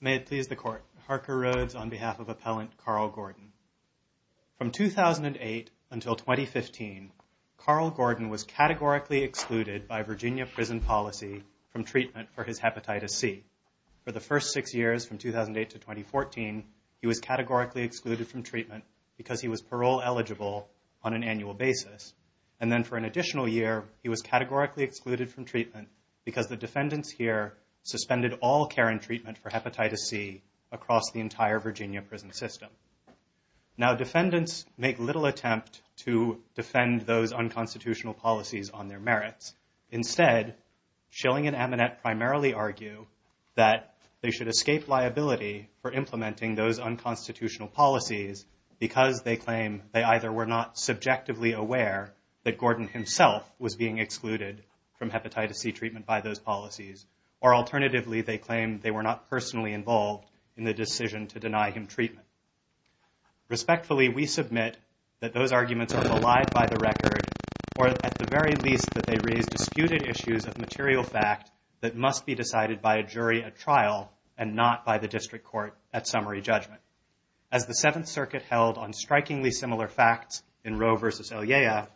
May it please the Court, Harker Rhodes on behalf of Appellant Carl Gordon. From 2008 until 2015, Carl Gordon was categorically excluded by Virginia prison policy from treatment for his Hepatitis C. For the first six years from 2008 to 2014, he was categorically excluded from treatment because he was parole eligible on an annual basis. And then for an additional year, he was categorically excluded from treatment because the defendants here suspended all care and treatment for Hepatitis C across the entire Virginia prison system. Now defendants make little attempt to defend those unconstitutional policies on their merits. Instead, Schilling and Aminette primarily argue that they should escape liability for implementing those unconstitutional policies because they claim they either were not subjectively aware that Gordon himself was being excluded from Hepatitis C treatment by those policies, or alternatively they claim they were not personally involved in the decision to deny him treatment. Respectfully, we submit that those arguments are belied by the record, or at the very least that they raise disputed issues of material fact that must be decided by a jury at trial and not by the district court at summary judgment. As the Seventh Circuit held on strikingly similar facts in Roe v. Elyea,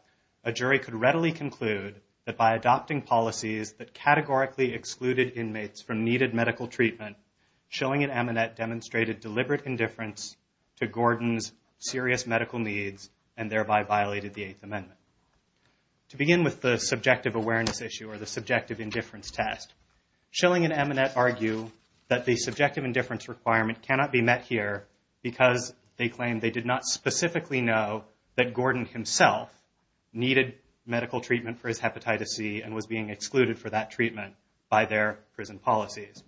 a jury could readily conclude that by adopting policies that categorically excluded inmates from needed medical treatment, Schilling and Aminette demonstrated deliberate indifference to Gordon's serious medical needs and thereby violated the Eighth Amendment. To begin with the subjective awareness issue or the subjective indifference test, Schilling and Aminette argue that the subjective indifference requirement cannot be met here because they claim they did not specifically know that Gordon himself needed medical treatment for his Hepatitis C and was being excluded for that treatment by their prison policies.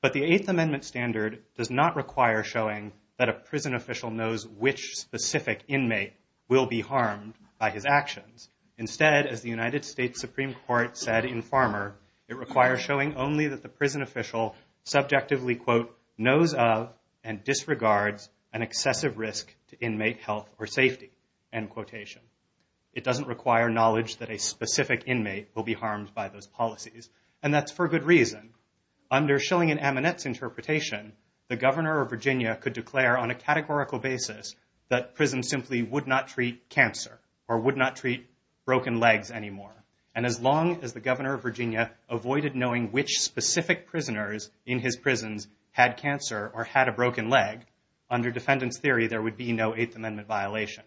But the Eighth Amendment standard does not require showing that a prison official knows which specific inmate will be harmed by his actions. Instead, as the United States Supreme Court said in Farmer, it requires showing only that the prison official subjectively, quote, knows of and disregards an excessive risk to inmate health or safety, end quotation. It doesn't require knowledge that a specific inmate will be harmed by those policies. And that's for good reason. Under Schilling and Aminette's interpretation, the governor of Virginia could declare on a categorical basis that prisons simply would not treat cancer or would not treat broken legs anymore. And as long as the governor of Virginia avoided knowing which specific prisoners in his prisons had cancer or had a broken leg, under defendant's theory, there would be no Eighth Amendment violation.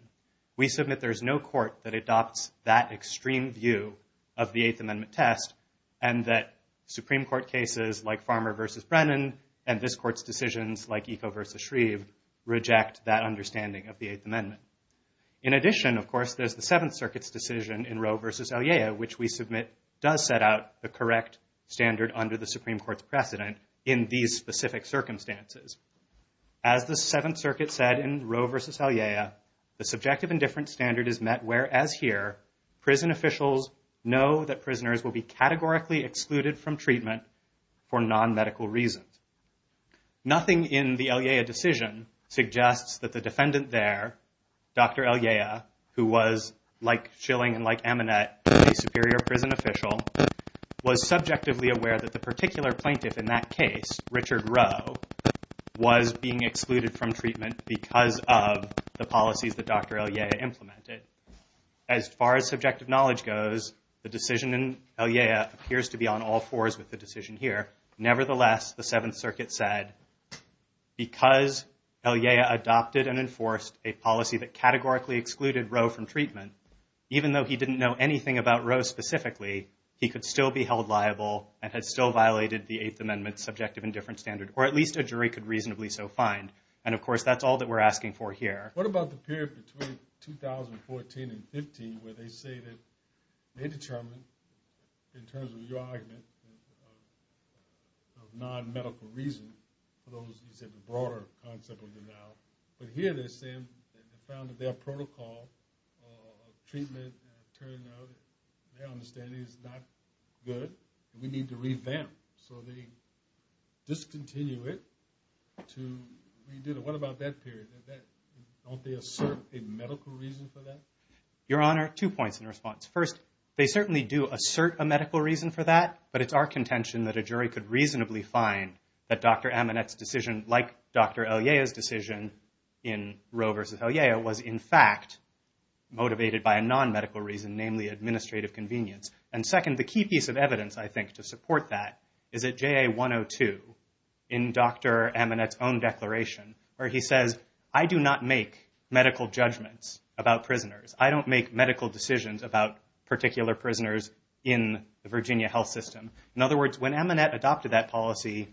We submit there is no court that adopts that extreme view of the Eighth Amendment test and that Supreme Court cases like Farmer versus Brennan and this court's decisions like Eco versus Shreve reject that understanding of the Eighth Amendment. In addition, of course, there's the Seventh Circuit's decision in Roe versus Elyea, which we submit does set out the correct standard under the Supreme Court's precedent in these specific circumstances. As the Seventh Circuit said in Roe versus Elyea, the subjective and different standard is met whereas here, prison officials know that prisoners will be categorically excluded from treatment for non-medical reasons. Nothing in the Elyea decision suggests that the defendant there, Dr. Elyea, who was like Schilling and like Amanet, a superior prison official, was subjectively aware that the particular plaintiff in that case, Richard Roe, was being excluded from treatment because of the policies that Dr. Elyea implemented. As far as subjective knowledge goes, the decision in Elyea appears to be on all fours with the Seventh Circuit said, because Elyea adopted and enforced a policy that categorically excluded Roe from treatment, even though he didn't know anything about Roe specifically, he could still be held liable and had still violated the Eighth Amendment's subjective and different standard, or at least a jury could reasonably so find. And of course, that's all that we're asking for here. What about the period between 2014 and 15 where they say that they determined, in terms of your argument, of non-medical reason, for those, you said, the broader concept of denial. But here they're saying they found that their protocol of treatment turned out, in their understanding, is not good and we need to revamp. So they discontinue it to redo it. What about that period? Don't they assert a medical reason for that? Your Honor, two points in response. First, they certainly do assert a medical reason for that. But it's our contention that a jury could reasonably find that Dr. Amanet's decision, like Dr. Elyea's decision in Roe versus Elyea, was in fact motivated by a non-medical reason, namely administrative convenience. And second, the key piece of evidence, I think, to support that is at JA 102, in Dr. Amanet's own declaration, where he says, I do not make medical judgments about prisoners. I don't make medical decisions about particular prisoners in the Virginia health system. In other words, when Amanet adopted that policy,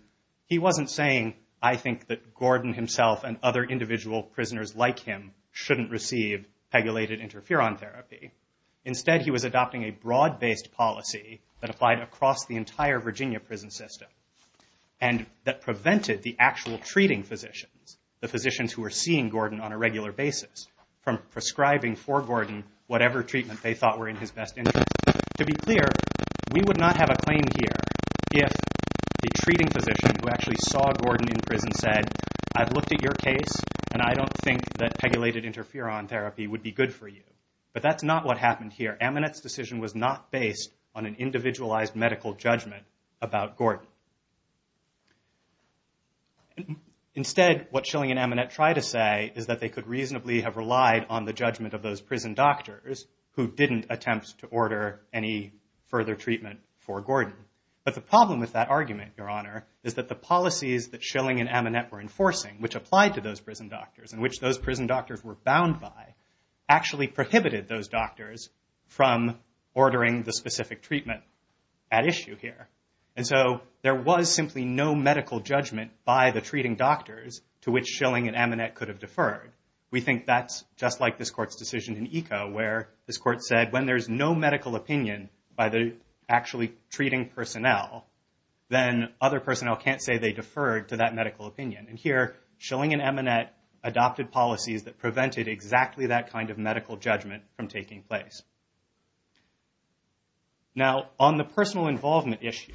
he wasn't saying, I think that Gordon himself and other individual prisoners like him shouldn't receive pegulated interferon therapy. Instead, he was adopting a broad-based policy that applied across the entire Virginia prison system and that prevented the actual treating physicians, the physicians who were seeing for Gordon whatever treatment they thought were in his best interest. To be clear, we would not have a claim here if the treating physician who actually saw Gordon in prison said, I've looked at your case, and I don't think that pegulated interferon therapy would be good for you. But that's not what happened here. Amanet's decision was not based on an individualized medical judgment about Gordon. Instead, what Schilling and Amanet try to say is that they could reasonably have relied on the judgment of those prison doctors who didn't attempt to order any further treatment for Gordon. But the problem with that argument, Your Honor, is that the policies that Schilling and Amanet were enforcing, which applied to those prison doctors and which those prison doctors were bound by, actually prohibited those doctors from ordering the specific treatment at issue here. And so there was simply no medical judgment by the treating doctors to which Schilling and Amanet could have deferred. We think that's just like this court's decision in Eco, where this court said when there's no medical opinion by the actually treating personnel, then other personnel can't say they deferred to that medical opinion. And here, Schilling and Amanet adopted policies that prevented exactly that kind of medical judgment from taking place. Now, on the personal involvement issue,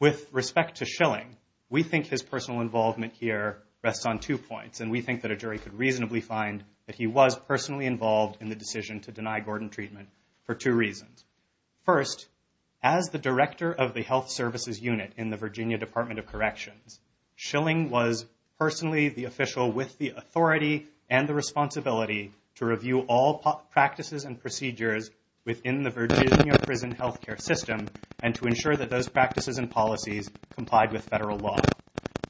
with respect to Schilling, we think his personal involvement here rests on two points. And we think that a jury could reasonably find that he was personally involved in the decision to deny Gordon treatment for two reasons. First, as the director of the health services unit in the Virginia Department of Corrections, Schilling was personally the official with the authority and the responsibility to review all practices and procedures within the Virginia prison health care system and to ensure that those practices and policies complied with federal law.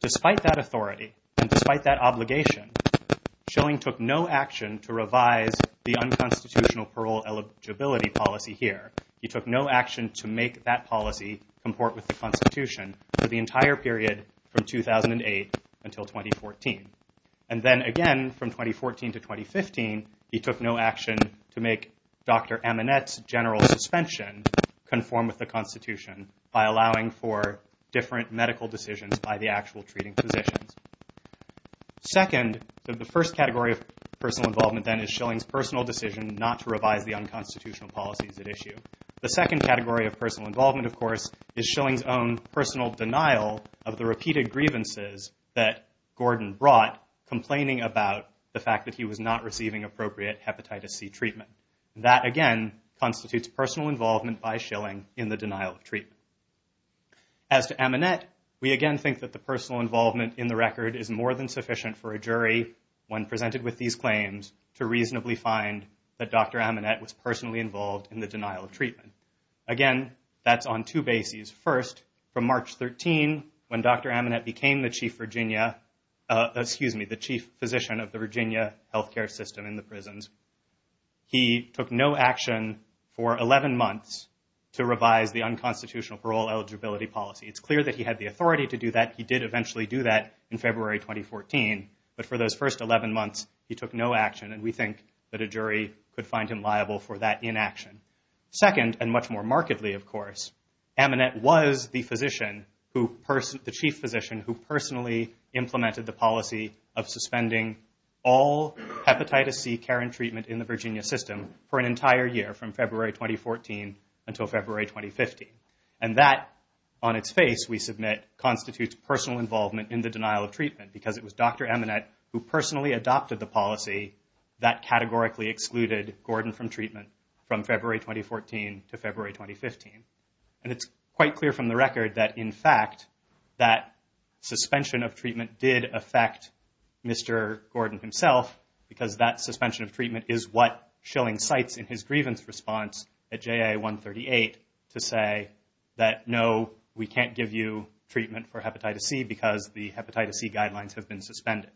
Despite that authority and despite that obligation, Schilling took no action to revise the unconstitutional parole eligibility policy here. He took no action to make that policy comport with the Constitution for the entire period from 2008 until 2014. And then again, from 2014 to 2015, he took no action to make Dr. Amanet's general suspension conform with the Constitution by allowing for different medical decisions by the actual treating physicians. Second, the first category of personal involvement, then, is Schilling's personal decision not to revise the unconstitutional policies at issue. The second category of personal involvement, of course, is Schilling's own personal denial of the repeated grievances that Gordon brought, complaining about the fact that he was not receiving appropriate hepatitis C treatment. That, again, constitutes personal involvement by Schilling in the denial of treatment. As to Amanet, we again think that the personal involvement in the record is more than sufficient for a jury, when presented with these claims, to reasonably find that Dr. Amanet was personally involved in the denial of treatment. Again, that's on two bases. First, from March 13, when Dr. Amanet became the chief physician of the Virginia health care system in the prisons, he took no action for 11 months to revise the unconstitutional parole eligibility policy. It's clear that he had the authority to do that. He did eventually do that in February 2014. But for those first 11 months, he took no action. And we think that a jury could find him liable for that inaction. Second, and much more markedly, of course, Amanet was the chief physician who personally implemented the policy of suspending all hepatitis C care and treatment in the Virginia system for an entire year, from February 2014 until February 2015. And that, on its face, we submit, constitutes personal involvement in the denial of treatment, because it was Dr. Amanet who personally adopted the policy that categorically excluded Gordon from treatment from February 2014 to February 2015. And it's quite clear from the record that, in fact, that suspension of treatment did affect Mr. Gordon himself, because that suspension of treatment is what Schilling cites in his grievance response at JA 138 to say that, no, we can't give you treatment for hepatitis C, because the hepatitis C guidelines have been suspended.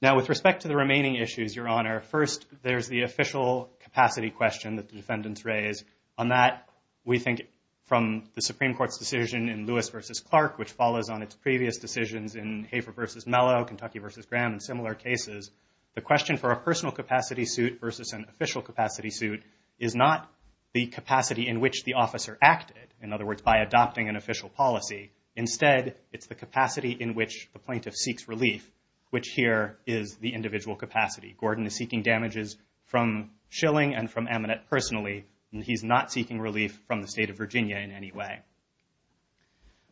Now, with respect to the remaining issues, Your Honor, first, there's the official capacity question that the defendants raise. On that, we think, from the Supreme Court's decision in Lewis v. Clark, which follows on its previous decisions in Hafer v. Mello, Kentucky v. Graham, and similar cases, the question for a personal capacity suit versus an official capacity suit is not the capacity in which the officer acted, in other words, by adopting an official policy. Instead, it's the capacity in which the plaintiff seeks relief, which here is the individual capacity. Gordon is seeking damages from Schilling and from Ammonet personally, and he's not seeking relief from the state of Virginia in any way.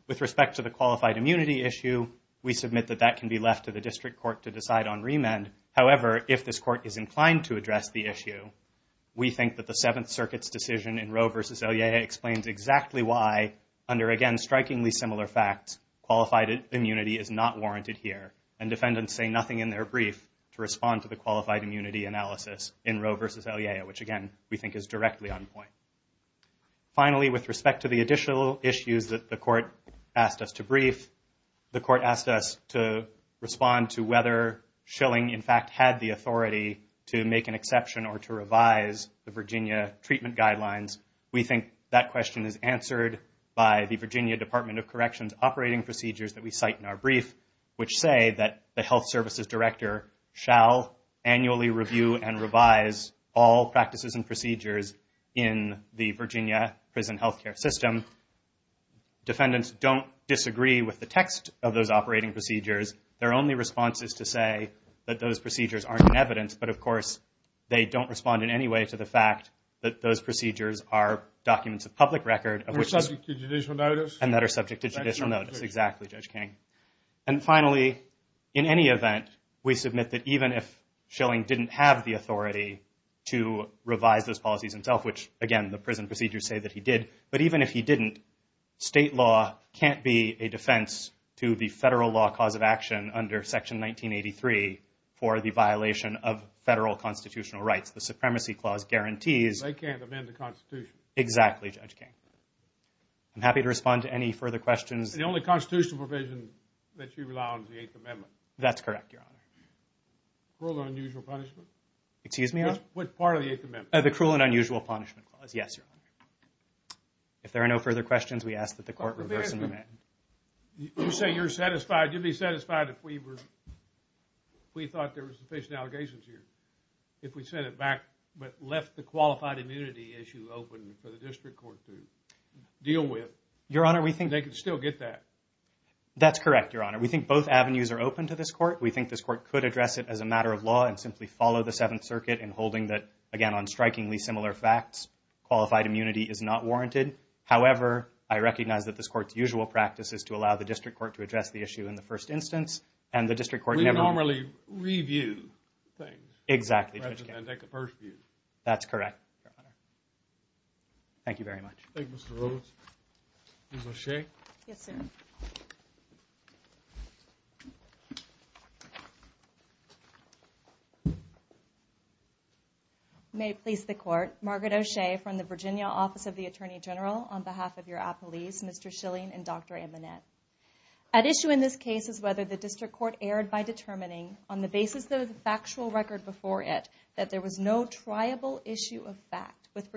With respect to the qualified immunity issue, we submit that that can be left to the district court to decide on remand. However, if this court is inclined to address the issue, we think that the Seventh Circuit's decision in Roe v. Elyea explains exactly why, under, again, strikingly similar facts, qualified immunity is not warranted here. And defendants say nothing in their brief to respond to the qualified immunity analysis in Roe v. Elyea, which, again, we think is directly on point. Finally, with respect to the additional issues that the court asked us to brief, the court asked us to respond to whether Schilling, in fact, had the authority to make an exception or to revise the Virginia treatment guidelines. We think that question is answered by the Virginia Department of Corrections operating procedures that we cite in our brief, which say that the health services director shall annually review and revise all practices and procedures in the Virginia prison health care system. Defendants don't disagree with the text of those operating procedures. Their only response is to say that those procedures aren't in evidence, but, of course, they don't respond in any way to the fact that those procedures are documents of public record, and that are subject to judicial notice. Exactly, Judge King. And finally, in any event, we submit that even if Schilling didn't have the authority to revise those policies himself, which, again, the prison procedures say that he did, but even if he didn't, state law can't be a defense to the federal law cause of action under Section 1983 for the violation of federal constitutional rights. The Supremacy Clause guarantees. They can't amend the Constitution. Exactly, Judge King. I'm happy to respond to any further questions. The only constitutional provision that you rely on is the Eighth Amendment. That's correct, Your Honor. Cruel and unusual punishment? Excuse me, Your Honor? Which part of the Eighth Amendment? The Cruel and Unusual Punishment Clause. Yes, Your Honor. If there are no further questions, we ask that the Court reverse and amend. You say you're satisfied. You'd be satisfied if we thought there were sufficient allegations here. If we sent it back but left the qualified immunity issue open for the District Court to deal with, they could still get that. That's correct, Your Honor. We think both avenues are open to this Court. We think this Court could address it as a matter of law and simply follow the Seventh Circuit in holding that, again, on strikingly similar facts, qualified immunity is not warranted. However, I recognize that this Court's usual practice is to allow the District Court to address the issue in the first instance, and the District Court never would. They would generally review things. Exactly. Rather than take a purge view. That's correct, Your Honor. Thank you very much. Thank you, Mr. Roland. Ms. O'Shea? Yes, sir. May it please the Court, Margaret O'Shea from the Virginia Office of the Attorney General, on behalf of your apolice, Mr. Schilling and Dr. Amanet. At issue in this case is whether the District Court erred by determining, on the basis of the factual record before it, that there was no triable issue of fact with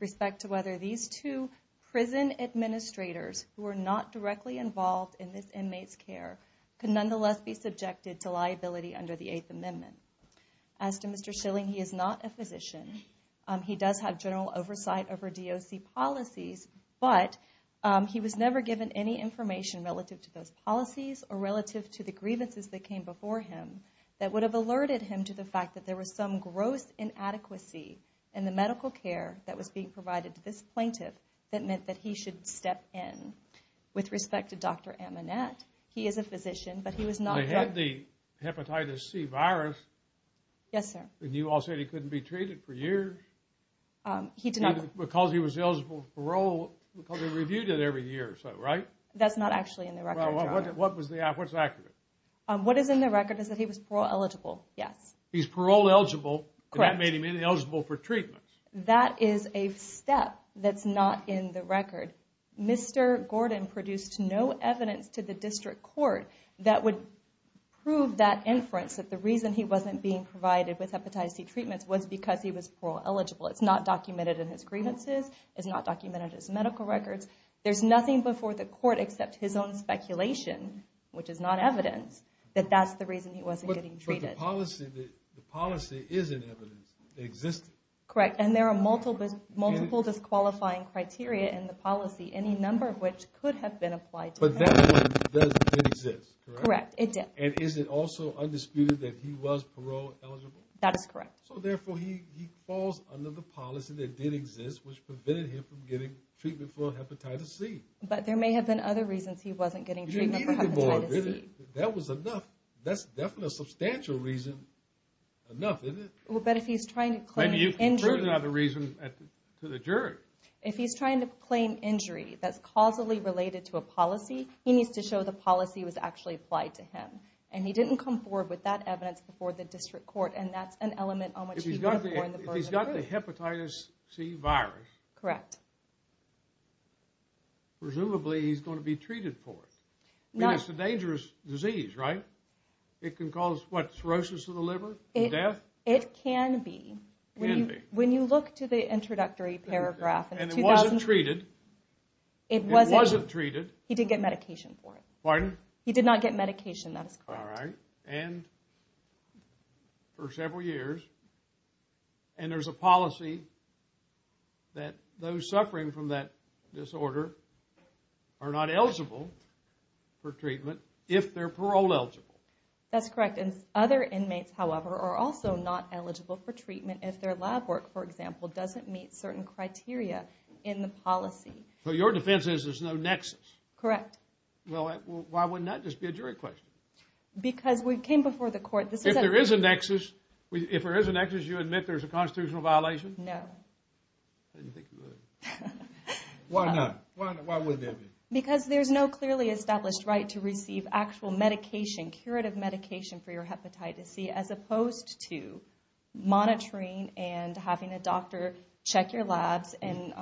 respect to whether these two prison administrators, who were not directly involved in this inmate's care, could nonetheless be subjected to liability under the Eighth Amendment. As to Mr. Schilling, he is not a physician. He does have general oversight over DOC policies, but he was never given any information relative to those policies or relative to the grievances that came before him that would have alerted him to the fact that there was some gross inadequacy in the medical care that was being provided to this plaintiff that meant that he should step in. With respect to Dr. Amanet, he is a physician, but he was not drugged. He had the hepatitis C virus. Yes, sir. And you all said he couldn't be treated for years? He did not. Because he was eligible for parole, because they reviewed it every year or so, right? That's not actually in the record, Your Honor. What's accurate? What is in the record is that he was parole eligible, yes. He's parole eligible, and that made him ineligible for treatment. That is a step that's not in the record. Mr. Gordon produced no evidence to the District Court that would prove that inference, that the reason he wasn't being provided with hepatitis C treatments was because he was parole eligible. It's not documented in his grievances. It's not documented in his medical records. There's nothing before the court except his own speculation, which is not evidence, that that's the reason he wasn't getting treated. But the policy is in evidence. It existed. Correct. And there are multiple disqualifying criteria in the policy, any number of which could have been applied to him. But that one does exist, correct? Correct. It did. And is it also undisputed that he was parole eligible? That is correct. So, therefore, he falls under the policy that did exist, which prevented him from getting treatment for hepatitis C. But there may have been other reasons he wasn't getting treatment for hepatitis C. That was enough. That's definitely a substantial reason enough, isn't it? Well, but if he's trying to claim injury... Maybe you can prove another reason to the jury. If he's trying to claim injury that's causally related to a policy, he needs to show the And he didn't come forward with that evidence before the district court. And that's an element on which he wouldn't have gone in the first place. If he's got the hepatitis C virus... Correct. Presumably, he's going to be treated for it. It's a dangerous disease, right? It can cause, what, cirrhosis of the liver? Death? It can be. It can be. When you look to the introductory paragraph... And it wasn't treated. It wasn't treated. He didn't get medication for it. Pardon? He did not get medication. That is correct. All right. And for several years, and there's a policy that those suffering from that disorder are not eligible for treatment if they're parole eligible. That's correct. And other inmates, however, are also not eligible for treatment if their lab work, for example, doesn't meet certain criteria in the policy. So your defense is there's no nexus. Correct. Well, why wouldn't that just be a jury question? Because we came before the court. If there is a nexus, you admit there's a constitutional violation? No. I didn't think you would. Why not? Why wouldn't that be? Because there's no clearly established right to receive actual medication, curative medication for your hepatitis C, as opposed to monitoring and having a doctor check your labs and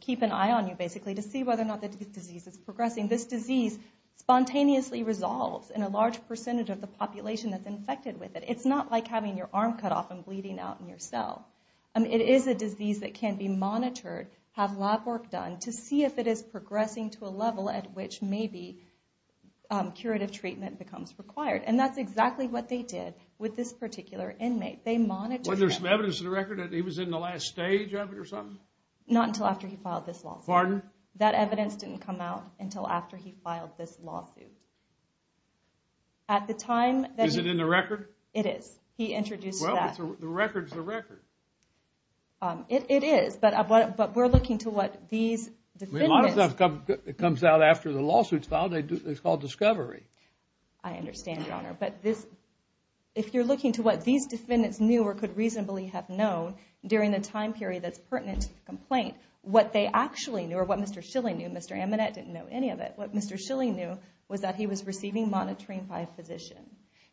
keep an eye on you basically to see whether or not the disease is progressing. This disease spontaneously resolves in a large percentage of the population that's infected with it. It's not like having your arm cut off and bleeding out in your cell. It is a disease that can be monitored, have lab work done to see if it is progressing to a level at which maybe curative treatment becomes required. And that's exactly what they did with this particular inmate. They monitored him. Wasn't there some evidence to the record that he was in the last stage of it or something? Not until after he filed this lawsuit. Pardon? That evidence didn't come out until after he filed this lawsuit. Is it in the record? It is. He introduced that. Well, the record's the record. It is, but we're looking to what these defendants... A lot of stuff comes out after the lawsuit's filed. It's called discovery. I understand, Your Honor. But if you're looking to what these defendants knew or could reasonably have known during a time period that's pertinent to the complaint, what they actually knew or what Mr. Schilling knew... Mr. Amanet didn't know any of it. What Mr. Schilling knew was that he was receiving monitoring by a physician.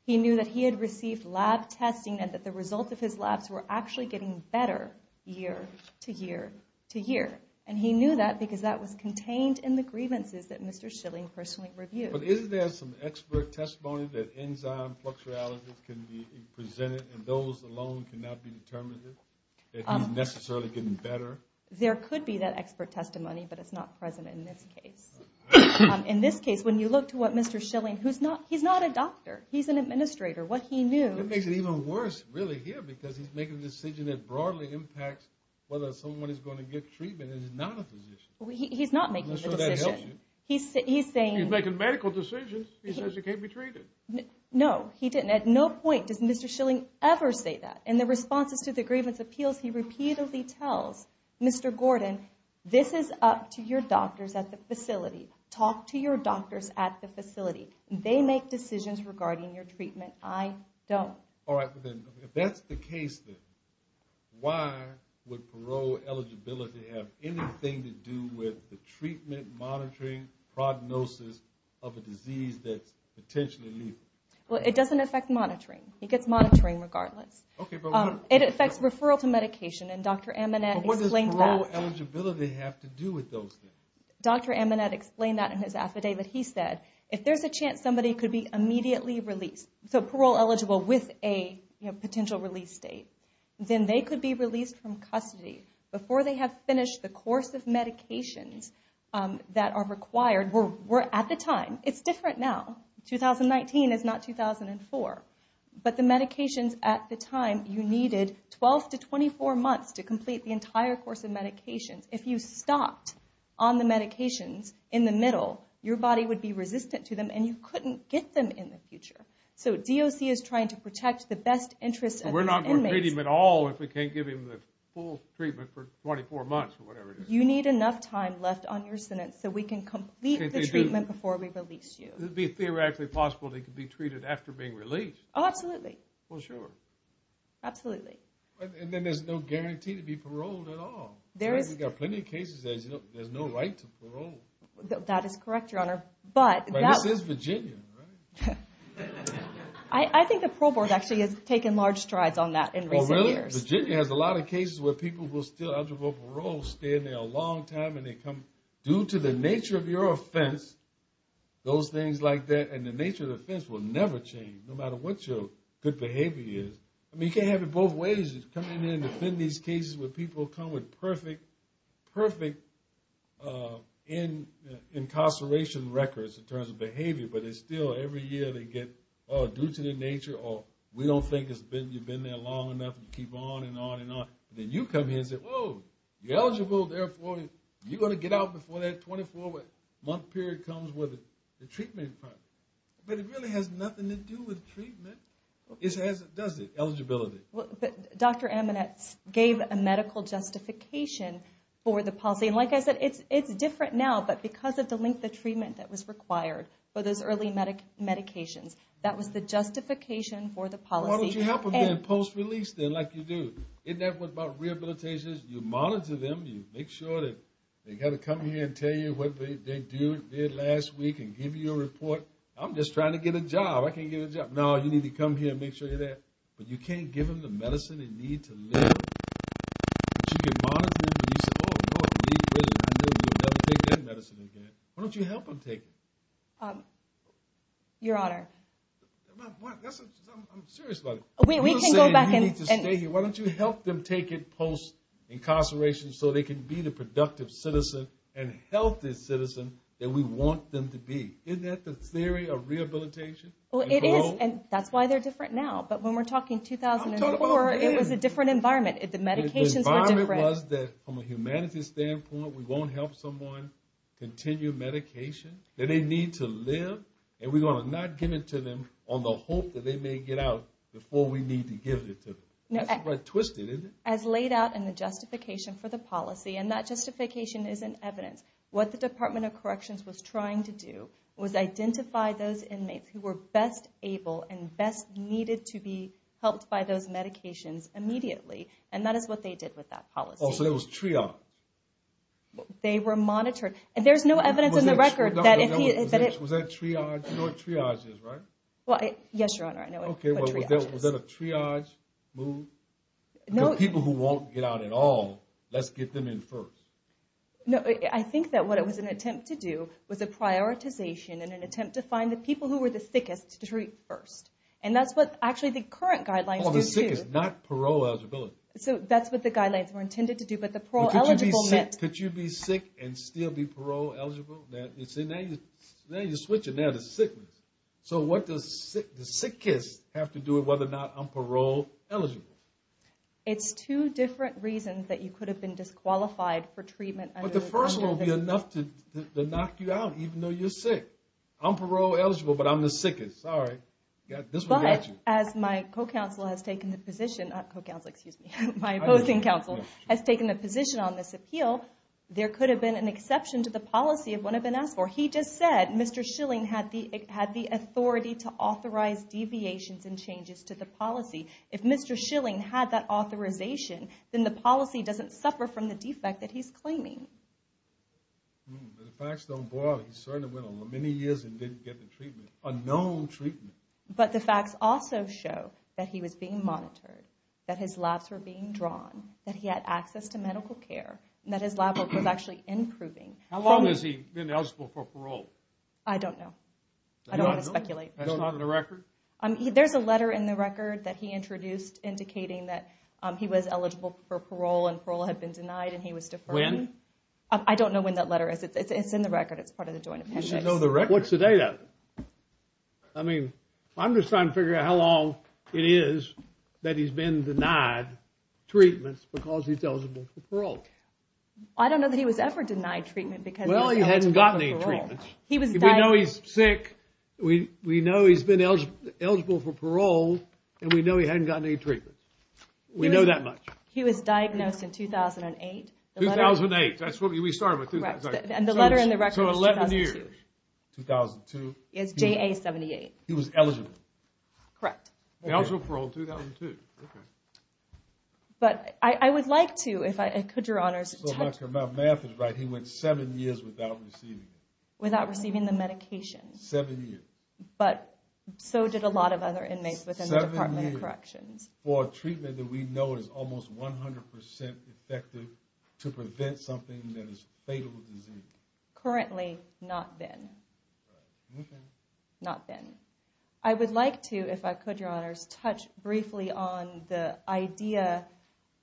He knew that he had received lab testing and that the result of his labs were actually getting better year to year to year. And he knew that because that was contained in the grievances that Mr. Schilling personally reviewed. But isn't there some expert testimony that enzyme flux realities can be presented and those alone cannot be determined if he's necessarily getting better? There could be that expert testimony, but it's not present in this case. In this case, when you look to what Mr. Schilling, who's not... He's not a doctor. He's an administrator. What he knew... It makes it even worse, really, here, because he's making a decision that broadly impacts whether someone is going to get treatment and is not a physician. He's not making the decision. I'm not sure that helps you. He's saying... He's making medical decisions. He says you can't be treated. No, he didn't. At no point does Mr. Schilling ever say that. In the responses to the grievance appeals, he repeatedly tells Mr. Gordon, this is up to your doctors at the facility. Talk to your doctors at the facility. They make decisions regarding your treatment. I don't. All right. If that's the case, then why would parole eligibility have anything to do with the treatment monitoring prognosis of a disease that's potentially lethal? Well, it doesn't affect monitoring. It gets monitoring regardless. Okay, but what... It affects referral to medication, and Dr. Amanat explained that. But what does parole eligibility have to do with those things? Dr. Amanat explained that in his affidavit. He said, if there's a chance somebody could be immediately released, so parole eligible with a potential release date, then they could be released from custody before they have finished the course of medications that are required. We're at the time. It's different now. 2019 is not 2004. But the medications at the time, you needed 12 to 24 months to complete the entire course of medications. If you stopped on the medications in the middle, your body would be resistant to them, and you couldn't get them in the future. So DOC is trying to protect the best interest of the inmates. We're not going to treat him at all if we can't give him the full treatment for 24 months or whatever it is. You need enough time left on your sentence so we can complete the treatment before we release you. It would be theoretically possible that he could be treated after being released. Oh, absolutely. Well, sure. Absolutely. And then there's no guarantee to be paroled at all. We've got plenty of cases that there's no right to parole. That is correct, Your Honor. But this is Virginia, right? I think the parole board actually has taken large strides on that in recent years. Oh, really? Virginia has a lot of cases where people will still undergo parole, stay in there a long time, and they come due to the nature of your offense, those things like that, and the nature of the offense will never change no matter what your good behavior is. I mean, you can't have it both ways. You come in here and defend these cases where people come with perfect incarceration records in terms of behavior, but it's still every year they get, oh, due to their nature, or we don't think you've been there long enough, and you keep on and on and on. Then you come here and say, whoa, you're eligible. Therefore, you're going to get out before that 24-month period comes with the treatment department. But it really has nothing to do with treatment. It doesn't. Eligibility. But Dr. Amonetz gave a medical justification for the policy. And like I said, it's different now, but because of the length of treatment that was required for those early medications, that was the justification for the policy. Why don't you help them post-release then like you do? Isn't that what about rehabilitation is? You monitor them. You make sure that they've got to come here and tell you what they did last week and give you a report. I'm just trying to get a job. I can't get a job. No, you need to come here and make sure you're there. But you can't give them the medicine they need to live. Why don't you help them take it? Your Honor. I'm serious about it. We can go back and – Why don't you help them take it post-incarceration so they can be the productive citizen and healthy citizen that we want them to be? Isn't that the theory of rehabilitation? Well, it is, and that's why they're different now. But when we're talking 2004, it was a different environment. The medications were different. The environment was that from a humanities standpoint, we won't help someone continue medication. They need to live, and we're going to not give it to them on the hope that they may get out before we need to give it to them. That's quite twisted, isn't it? As laid out in the justification for the policy, and that justification is in evidence, what the Department of Corrections was trying to do was identify those inmates who were best able and best needed to be helped by those medications immediately, and that is what they did with that policy. Oh, so it was triage. They were monitored. And there's no evidence in the record that if he— Was that triage? You know what triage is, right? Well, yes, Your Honor, I know what triage is. Okay, well, was that a triage move? No. The people who won't get out at all, let's get them in first. No, I think that what it was an attempt to do was a prioritization and an attempt to find the people who were the sickest to treat first. And that's what actually the current guidelines do, too. Oh, the sick is not parole-eligible. So that's what the guidelines were intended to do, but the parole-eligible meant— You see, now you're switching there to sickness. So what does the sickest have to do with whether or not I'm parole-eligible? It's two different reasons that you could have been disqualified for treatment under— But the first one would be enough to knock you out, even though you're sick. I'm parole-eligible, but I'm the sickest. Sorry. But as my co-counsel has taken the position—not co-counsel, excuse me—my opposing counsel has taken the position on this appeal, there could have been an exception to the policy of what had been asked for. He just said Mr. Schilling had the authority to authorize deviations and changes to the policy. If Mr. Schilling had that authorization, then the policy doesn't suffer from the defect that he's claiming. But the facts don't boil it. He certainly went on many years and didn't get the treatment, a known treatment. But the facts also show that he was being monitored, that his labs were being drawn, that he had access to medical care, and that his lab work was actually improving. How long has he been eligible for parole? I don't know. I don't want to speculate. That's not in the record? There's a letter in the record that he introduced indicating that he was eligible for parole and parole had been denied and he was deferred. When? I don't know when that letter is. It's in the record. It's part of the Joint Appendix. You should know the record. What's the date of it? I mean, I'm just trying to figure out how long it is that he's been denied treatments because he's eligible for parole. I don't know that he was ever denied treatment because he was eligible for parole. Well, he hadn't gotten any treatments. We know he's sick. We know he's been eligible for parole, and we know he hadn't gotten any treatments. We know that much. He was diagnosed in 2008. 2008. That's what we started with. Correct. And the letter in the record was 2002. So 11 years. 2002. It's JA-78. He was eligible. Correct. He was eligible for parole in 2002. Okay. But I would like to, if I could, Your Honors. My math is right. He went seven years without receiving it. Without receiving the medication. Seven years. But so did a lot of other inmates within the Department of Corrections. Seven years for a treatment that we know is almost 100% effective to prevent something that is a fatal disease. Currently, not been. Not been. I would like to, if I could, Your Honors, touch briefly on the idea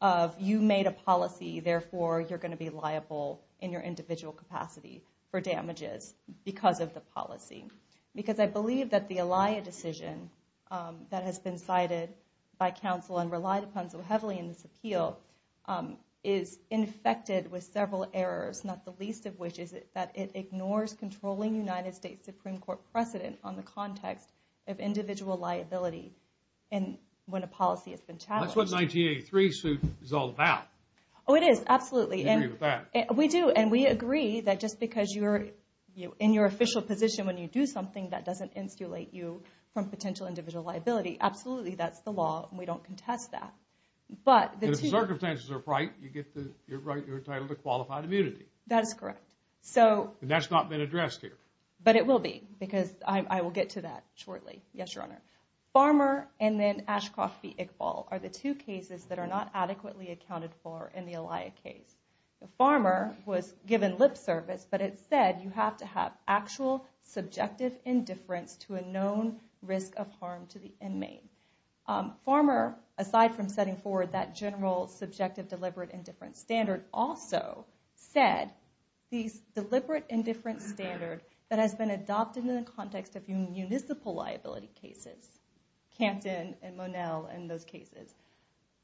of you made a policy. Therefore, you're going to be liable in your individual capacity for damages because of the policy. Because I believe that the ELIA decision that has been cited by counsel and relied upon so heavily in this appeal is infected with several errors, not the least of which is that it ignores controlling United States Supreme Court precedent on the context of individual liability when a policy has been challenged. That's what 1983 suit is all about. Oh, it is. Absolutely. We agree with that. We do. And we agree that just because you're in your official position when you do something, that doesn't insulate you from potential individual liability. Absolutely. That's the law. And we don't contest that. If the circumstances are right, you're entitled to qualified immunity. That is correct. And that's not been addressed here. But it will be because I will get to that shortly. Yes, Your Honor. Farmer and then Ashcroft v. Iqbal are the two cases that are not adequately accounted for in the ELIA case. Farmer was given lip service, but it said you have to have actual subjective indifference to a known risk of harm to the inmate. Farmer, aside from setting forward that general subjective deliberate indifference standard, also said the deliberate indifference standard that has been adopted in the context of municipal liability cases, Canton and Monel and those cases,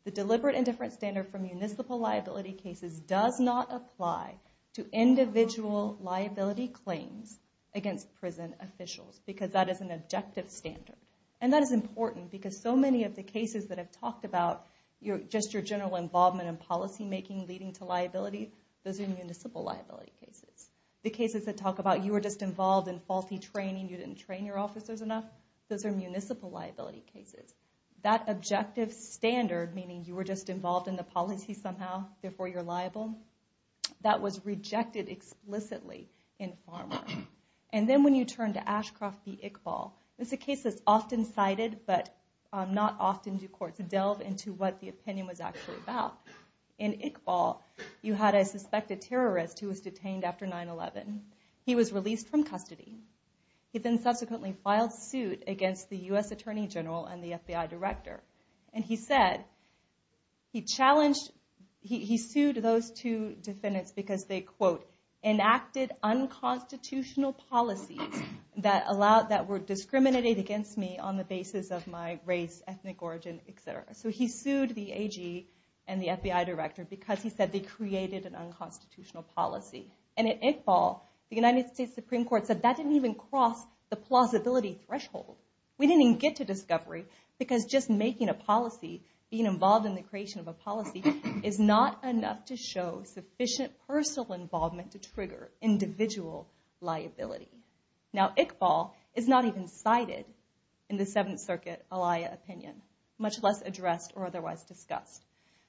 the deliberate indifference standard for municipal liability cases does not apply to individual liability claims against prison officials because that is an objective standard. And that is important because so many of the cases that I've talked about, just your general involvement in policymaking leading to liability, those are municipal liability cases. The cases that talk about you were just involved in faulty training, you didn't train your officers enough, those are municipal liability cases. That objective standard, meaning you were just involved in the policy somehow, therefore you're liable, that was rejected explicitly in Farmer. And then when you turn to Ashcroft v. Iqbal, it's a case that's often cited but not often do courts delve into what the opinion was actually about. In Iqbal, you had a suspected terrorist who was detained after 9-11. He was released from custody. He then subsequently filed suit against the U.S. Attorney General and the FBI Director. And he said, he challenged, he sued those two defendants because they, quote, enacted unconstitutional policies that were discriminated against me on the basis of my race, ethnic origin, etc. So he sued the AG and the FBI Director because he said they created an unconstitutional policy. And at Iqbal, the United States Supreme Court said that didn't even cross the plausibility threshold. We didn't even get to discovery because just making a policy, being involved in the creation of a policy, is not enough to show sufficient personal involvement to trigger individual liability. Now, Iqbal is not even cited in the Seventh Circuit alia opinion, much less addressed or otherwise discussed.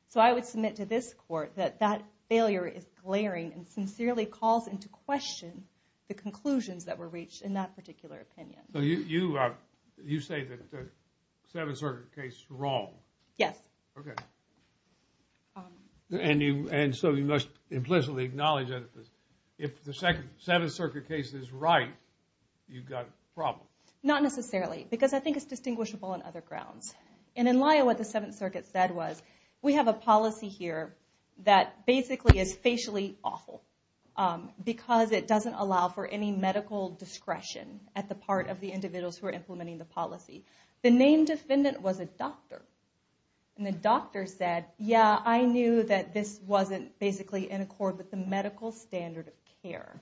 So I would submit to this court that that failure is glaring and sincerely calls into question the conclusions that were reached in that particular opinion. So you say that the Seventh Circuit case is wrong. Yes. Okay. And so you must implicitly acknowledge that if the Seventh Circuit case is right, you've got a problem. Not necessarily, because I think it's distinguishable on other grounds. And in Lya, what the Seventh Circuit said was, we have a policy here that basically is facially awful because it doesn't allow for any medical discretion at the part of the individuals who are implementing the policy. The named defendant was a doctor. And the doctor said, yeah, I knew that this wasn't basically in accord with the medical standard of care.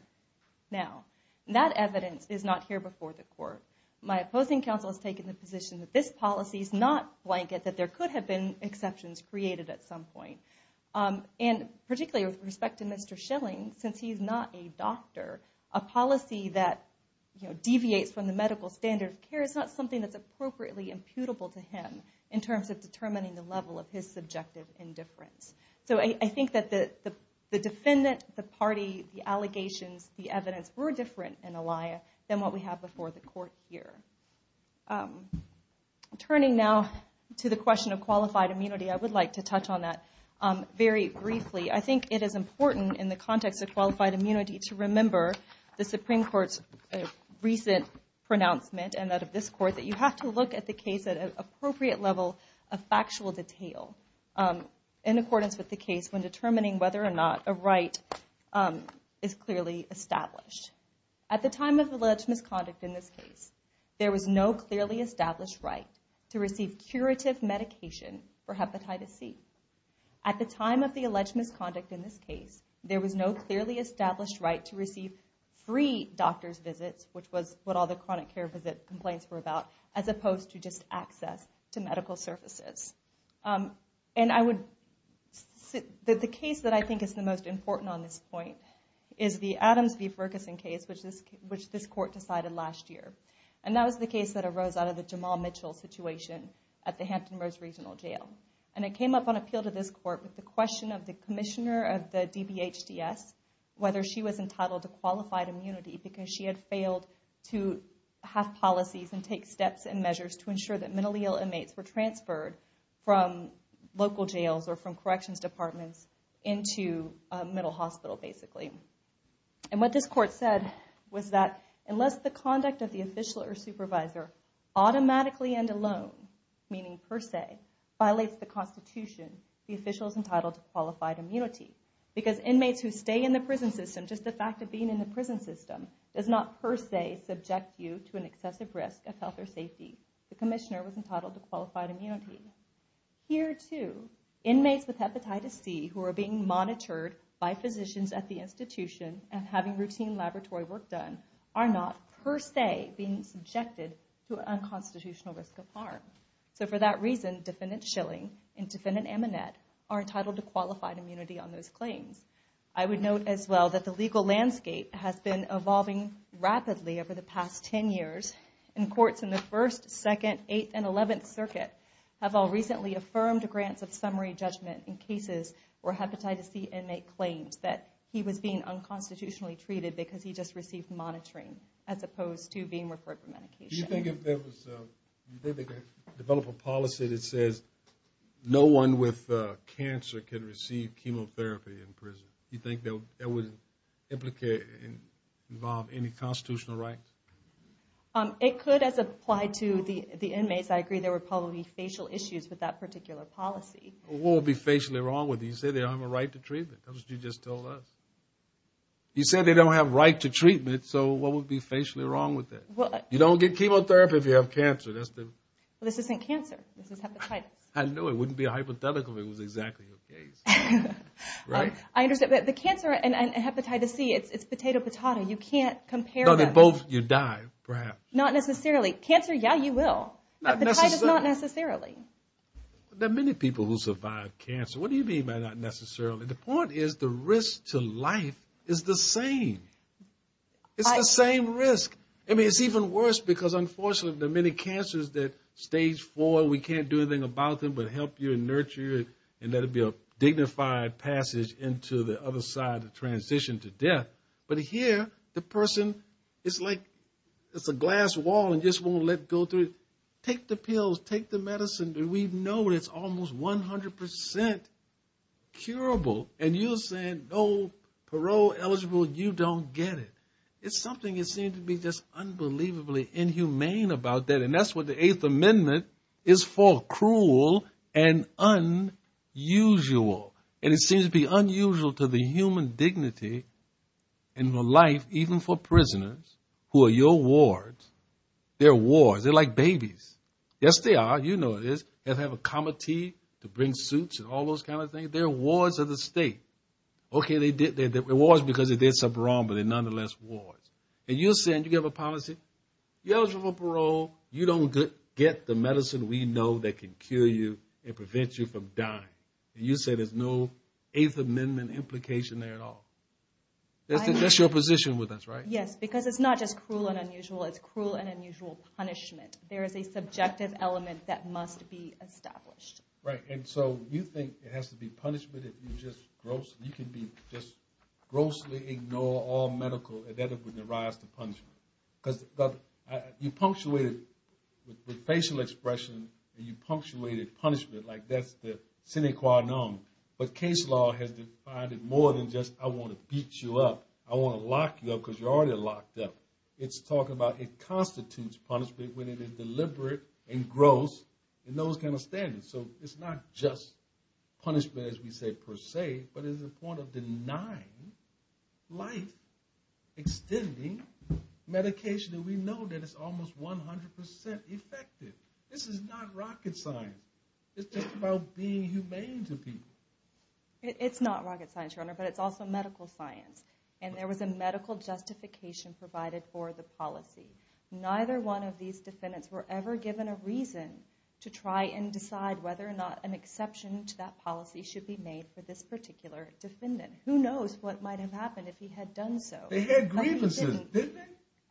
Now, that evidence is not here before the court. My opposing counsel has taken the position that this policy is not blanket, that there could have been exceptions created at some point. And particularly with respect to Mr. Schilling, since he's not a doctor, a policy that deviates from the medical standard of care is not something that's appropriately imputable to him in terms of determining the level of his subjective indifference. So I think that the defendant, the party, the allegations, the evidence were different in Lya than what we have before the court here. Turning now to the question of qualified immunity, I would like to touch on that very briefly. I think it is important in the context of qualified immunity to remember the Supreme Court's recent pronouncement and that of this Court that you have to look at the case at an appropriate level of factual detail in accordance with the case when determining whether or not a right is clearly established. At the time of alleged misconduct in this case, there was no clearly established right to receive curative medication for hepatitis C. At the time of the alleged misconduct in this case, there was no clearly established right to receive free doctor's visits, which was what all the chronic care visit complaints were about, as opposed to just access to medical services. The case that I think is the most important on this point is the Adams v. Ferguson case, which this Court decided last year. And that was the case that arose out of the Jamal Mitchell situation at the Hampton Roads Regional Jail. And it came up on appeal to this Court with the question of the commissioner of the DBHDS, whether she was entitled to qualified immunity because she had failed to have policies and take steps and measures to ensure that mentally ill inmates were transferred from local jails or from corrections departments into a mental hospital, basically. And what this Court said was that unless the conduct of the official or supervisor automatically and alone, meaning per se, violates the Constitution, the official is entitled to qualified immunity. Because inmates who stay in the prison system, just the fact of being in the prison system, does not per se subject you to an excessive risk of health or safety. The commissioner was entitled to qualified immunity. Here, too, inmates with Hepatitis C who are being monitored by physicians at the institution and having routine laboratory work done are not per se being subjected to unconstitutional risk of harm. So for that reason, Defendant Schilling and Defendant Amonet are entitled to qualified immunity on those claims. I would note as well that the legal landscape has been evolving rapidly over the past 10 years, and courts in the First, Second, Eighth, and Eleventh Circuit have all recently affirmed grants of summary judgment in cases where Hepatitis C inmate claims that he was being unconstitutionally treated because he just received monitoring as opposed to being referred for medication. Do you think if they develop a policy that says no one with cancer can receive chemotherapy in prison, do you think that would implicate and involve any constitutional rights? It could as applied to the inmates. I agree there would probably be facial issues with that particular policy. What would be facially wrong with it? You said they don't have a right to treatment. That's what you just told us. You said they don't have a right to treatment, so what would be facially wrong with that? You don't get chemotherapy if you have cancer. This isn't cancer. This is hepatitis. I knew it. It wouldn't be hypothetical if it was exactly the case. Right? I understand. But the cancer and hepatitis C, it's potato, patata. You can't compare them. No, they're both. You die, perhaps. Not necessarily. Cancer, yeah, you will. Hepatitis, not necessarily. There are many people who survive cancer. What do you mean by not necessarily? The point is the risk to life is the same. It's the same risk. I mean, it's even worse because, unfortunately, there are many cancers that stage four, we can't do anything about them but help you and nurture you and let it be a dignified passage into the other side of transition to death. But here, the person is like it's a glass wall and just won't let go through it. Take the pills. Take the medicine. We know it's almost 100% curable. And you're saying no, parole eligible, you don't get it. It's something that seems to be just unbelievably inhumane about that. And that's what the Eighth Amendment is for, cruel and unusual. And it seems to be unusual to the human dignity and the life, even for prisoners, who are your wards. They're wards. They're like babies. Yes, they are. You know it is. They have a comity to bring suits and all those kind of things. They're wards of the state. Okay, they're wards because they did something wrong, but they're nonetheless wards. And you're saying you have a policy, you're eligible for parole, you don't get the medicine we know that can cure you and prevent you from dying. And you say there's no Eighth Amendment implication there at all. That's your position with us, right? Yes, because it's not just cruel and unusual. It's cruel and unusual punishment. There is a subjective element that must be established. Right, and so you think it has to be punishment if you're just gross? You can just grossly ignore all medical, and that would arise to punishment. Because you punctuated with facial expression and you punctuated punishment, like that's the sine qua non. But case law has defined it more than just I want to beat you up, I want to lock you up because you're already locked up. It's talking about it constitutes punishment when it is deliberate and gross in those kind of standards. So it's not just punishment as we say per se, but it's a point of denying life, extending medication that we know that is almost 100% effective. This is not rocket science. It's just about being humane to people. It's not rocket science, Your Honor, but it's also medical science. And there was a medical justification provided for the policy. Neither one of these defendants were ever given a reason to try and decide whether or not an exception to that policy should be made for this particular defendant. Who knows what might have happened if he had done so? They had grievances, didn't they?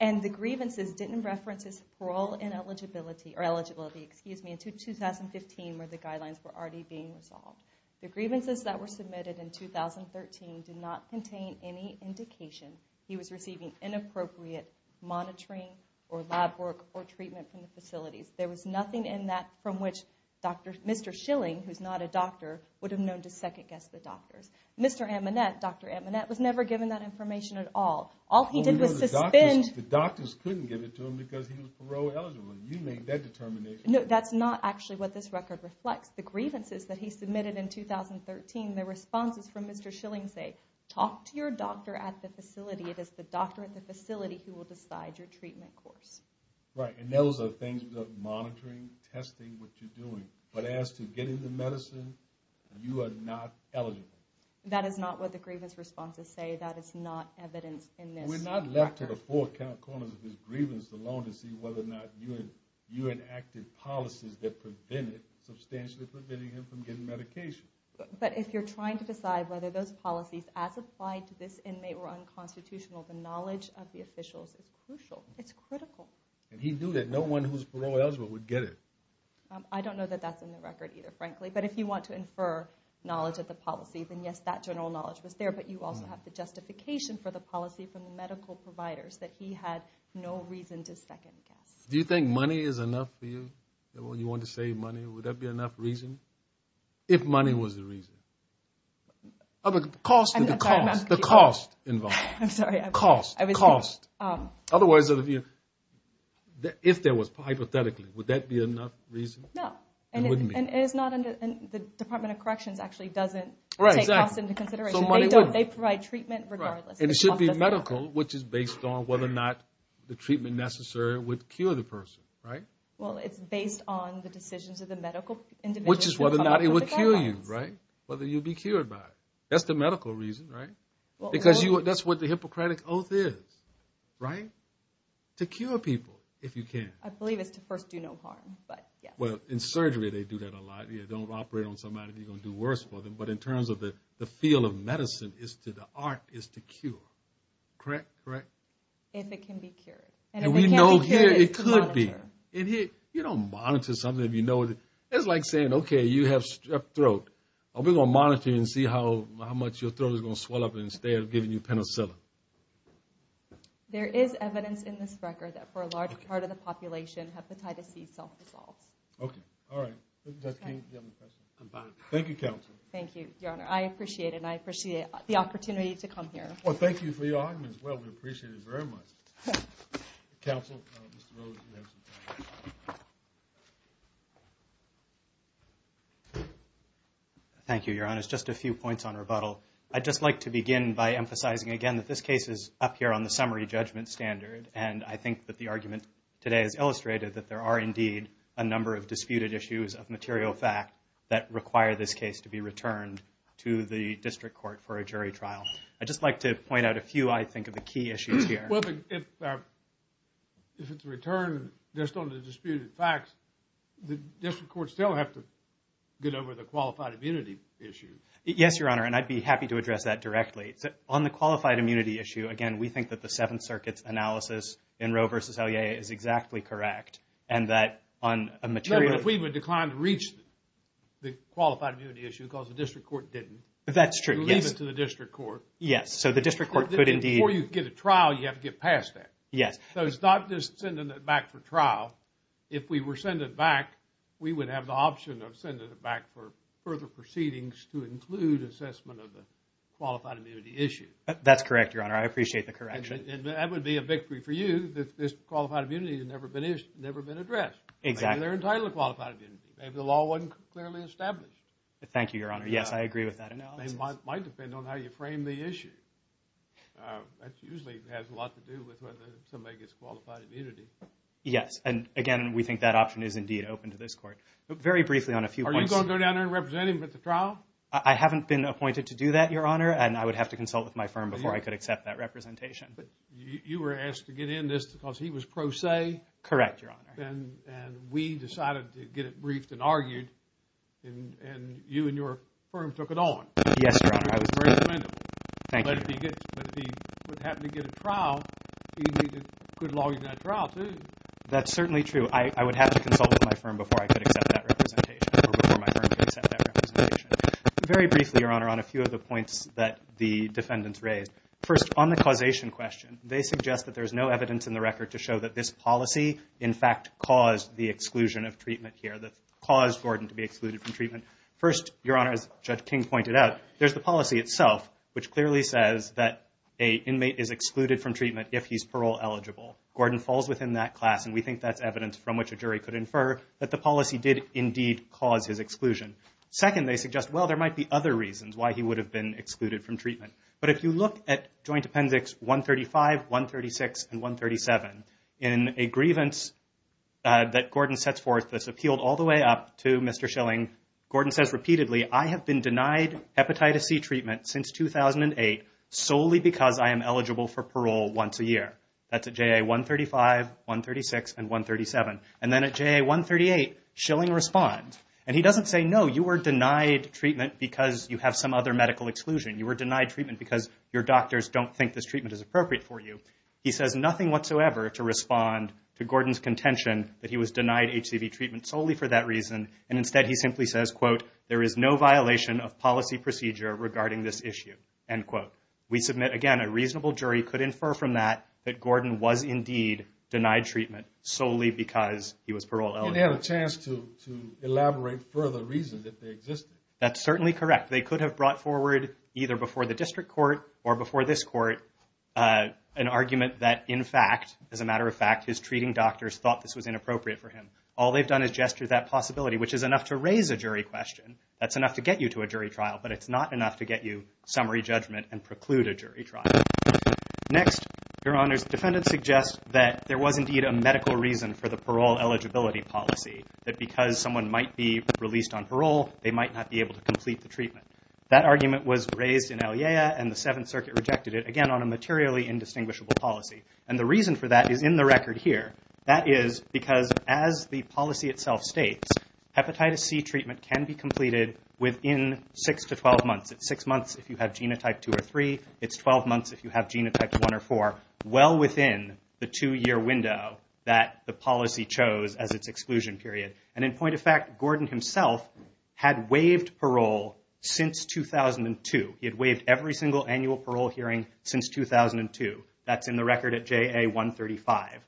And the grievances didn't reference his parole and eligibility, or eligibility, excuse me, until 2015 where the guidelines were already being resolved. The grievances that were submitted in 2013 did not contain any indication he was receiving inappropriate monitoring or lab work or treatment from the facilities. There was nothing in that from which Mr. Schilling, who's not a doctor, would have known to second-guess the doctors. Mr. Amonet, Dr. Amonet, was never given that information at all. All he did was suspend... The doctors couldn't give it to him because he was parole eligible. You made that determination. No, that's not actually what this record reflects. The grievances that he submitted in 2013, the responses from Mr. Schilling say, talk to your doctor at the facility. It is the doctor at the facility who will decide your treatment course. Right, and those are things about monitoring, testing, what you're doing. But as to getting the medicine, you are not eligible. That is not what the grievance responses say. That is not evidence in this record. We're not left to the four corners of his grievance alone to see whether or not you enacted policies that substantially prevented him from getting medication. But if you're trying to decide whether those policies, as applied to this inmate, were unconstitutional, the knowledge of the officials is crucial. It's critical. And he knew that no one who's parole eligible would get it. I don't know that that's in the record either, frankly. But if you want to infer knowledge of the policy, then yes, that general knowledge was there. But you also have the justification for the policy from the medical providers that he had no reason to second-guess. Do you think money is enough for you? You want to save money. Would that be enough reason? If money was the reason. The cost involved. I'm sorry. Cost. Otherwise, if there was, hypothetically, would that be enough reason? No. And the Department of Corrections actually doesn't take cost into consideration. They provide treatment regardless. And it should be medical, which is based on whether or not the treatment necessary would cure the person. Well, it's based on the decisions of the medical individual. Which is whether or not it would cure you, right? Whether you'd be cured by it. That's the medical reason, right? Because that's what the Hippocratic Oath is, right? To cure people, if you can. I believe it's to first do no harm. Well, in surgery they do that a lot. You don't operate on somebody, you're going to do worse for them. But in terms of the field of medicine, the art is to cure. Correct? Correct. If it can be cured. And if it can't be cured, it's to monitor. You don't monitor something if you know it. It's like saying, okay, you have strep throat. We're going to monitor and see how much your throat is going to swell up instead of giving you penicillin. There is evidence in this record that for a large part of the population, hepatitis C self-dissolves. Okay. All right. Thank you, Counsel. Thank you, Your Honor. I appreciate it. And I appreciate the opportunity to come here. Well, thank you for your argument as well. We appreciate it very much. Counsel, Mr. Rhodes, you have some time. Thank you, Your Honor. Just a few points on rebuttal. I'd just like to begin by emphasizing again that this case is up here on the summary judgment standard. And I think that the argument today has illustrated that there are indeed a number of disputed issues of material fact that require this case to be returned to the district court for a jury trial. I'd just like to point out a few, I think, of the key issues here. Well, if it's returned just on the disputed facts, the district courts still have to get over the qualified immunity issue. Yes, Your Honor. And I'd be happy to address that directly. On the qualified immunity issue, again, we think that the Seventh Circuit's analysis in Roe v. Elyea is exactly correct and that on a material – But if we would decline to reach the qualified immunity issue because the district court didn't – That's true, yes. You leave it to the district court. Yes. So the district court could indeed – They could get past that. Yes. So it's not just sending it back for trial. If we were sending it back, we would have the option of sending it back for further proceedings to include assessment of the qualified immunity issue. That's correct, Your Honor. I appreciate the correction. And that would be a victory for you that this qualified immunity has never been addressed. Exactly. Maybe they're entitled to qualified immunity. Maybe the law wasn't clearly established. Thank you, Your Honor. Yes, I agree with that analysis. It might depend on how you frame the issue. That usually has a lot to do with whether somebody gets qualified immunity. Yes. And, again, we think that option is indeed open to this court. Very briefly on a few points – Are you going to go down there and represent him at the trial? I haven't been appointed to do that, Your Honor, and I would have to consult with my firm before I could accept that representation. But you were asked to get in this because he was pro se. Correct, Your Honor. And we decided to get it briefed and argued, and you and your firm took it on. Yes, Your Honor. Thank you. That's certainly true. I would have to consult with my firm before I could accept that representation or before my firm could accept that representation. Very briefly, Your Honor, on a few of the points that the defendants raised. First, on the causation question, they suggest that there's no evidence in the record to show that this policy, in fact, caused the exclusion of treatment here, that caused Gordon to be excluded from treatment. First, Your Honor, as Judge King pointed out, there's the policy itself, which clearly says that an inmate is excluded from treatment if he's parole eligible. Gordon falls within that class, and we think that's evidence from which a jury could infer that the policy did indeed cause his exclusion. Second, they suggest, well, there might be other reasons why he would have been excluded from treatment. But if you look at Joint Appendix 135, 136, and 137, in a grievance that Gordon sets forth that's appealed all the way up to Mr. Schilling, Gordon says repeatedly, I have been denied hepatitis C treatment since 2008 solely because I am eligible for parole once a year. That's at JA 135, 136, and 137. And then at JA 138, Schilling responds, and he doesn't say, no, you were denied treatment because you have some other medical exclusion. You were denied treatment because your doctors don't think this treatment is appropriate for you. He says nothing whatsoever to respond to Gordon's contention that he was denied HCV treatment solely for that reason. And instead, he simply says, quote, there is no violation of policy procedure regarding this issue, end quote. We submit, again, a reasonable jury could infer from that that Gordon was indeed denied treatment solely because he was parole eligible. He didn't have a chance to elaborate further reason that they existed. That's certainly correct. They could have brought forward, either before the district court or before this court, an argument that, in fact, as a matter of fact, his treating doctors thought this was inappropriate for him. All they've done is gesture that possibility, which is enough to raise a jury question. That's enough to get you to a jury trial, but it's not enough to get you summary judgment and preclude a jury trial. Next, Your Honors, the defendant suggests that there was indeed a medical reason for the parole eligibility policy, that because someone might be released on parole, they might not be able to complete the treatment. That argument was raised in Eliea, and the Seventh Circuit rejected it, again, on a materially indistinguishable policy. The reason for that is in the record here. That is because, as the policy itself states, hepatitis C treatment can be completed within 6 to 12 months. It's 6 months if you have genotype 2 or 3. It's 12 months if you have genotype 1 or 4, well within the 2-year window that the policy chose as its exclusion period. In point of fact, Gordon himself had waived parole since 2002. He had waived every single annual parole hearing since 2002. That's in the record at JA 135.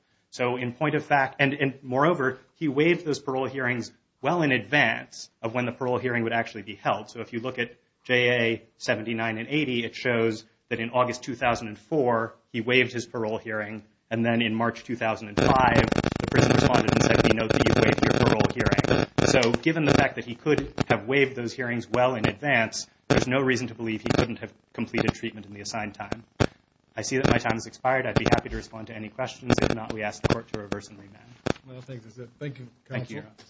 In point of fact, and moreover, he waived those parole hearings well in advance of when the parole hearing would actually be held. If you look at JA 79 and 80, it shows that in August 2004, he waived his parole hearing. Then in March 2005, the prison respondent said, we know that you waived your parole hearing. Given the fact that he could have waived those hearings well in advance, there's no reason to believe he couldn't have completed treatment in the assigned time. I see that my time has expired. I'd be happy to respond to any questions. If not, we ask the court to reverse and remand. Well, I think that's it. Thank you, Counsel. Thank you.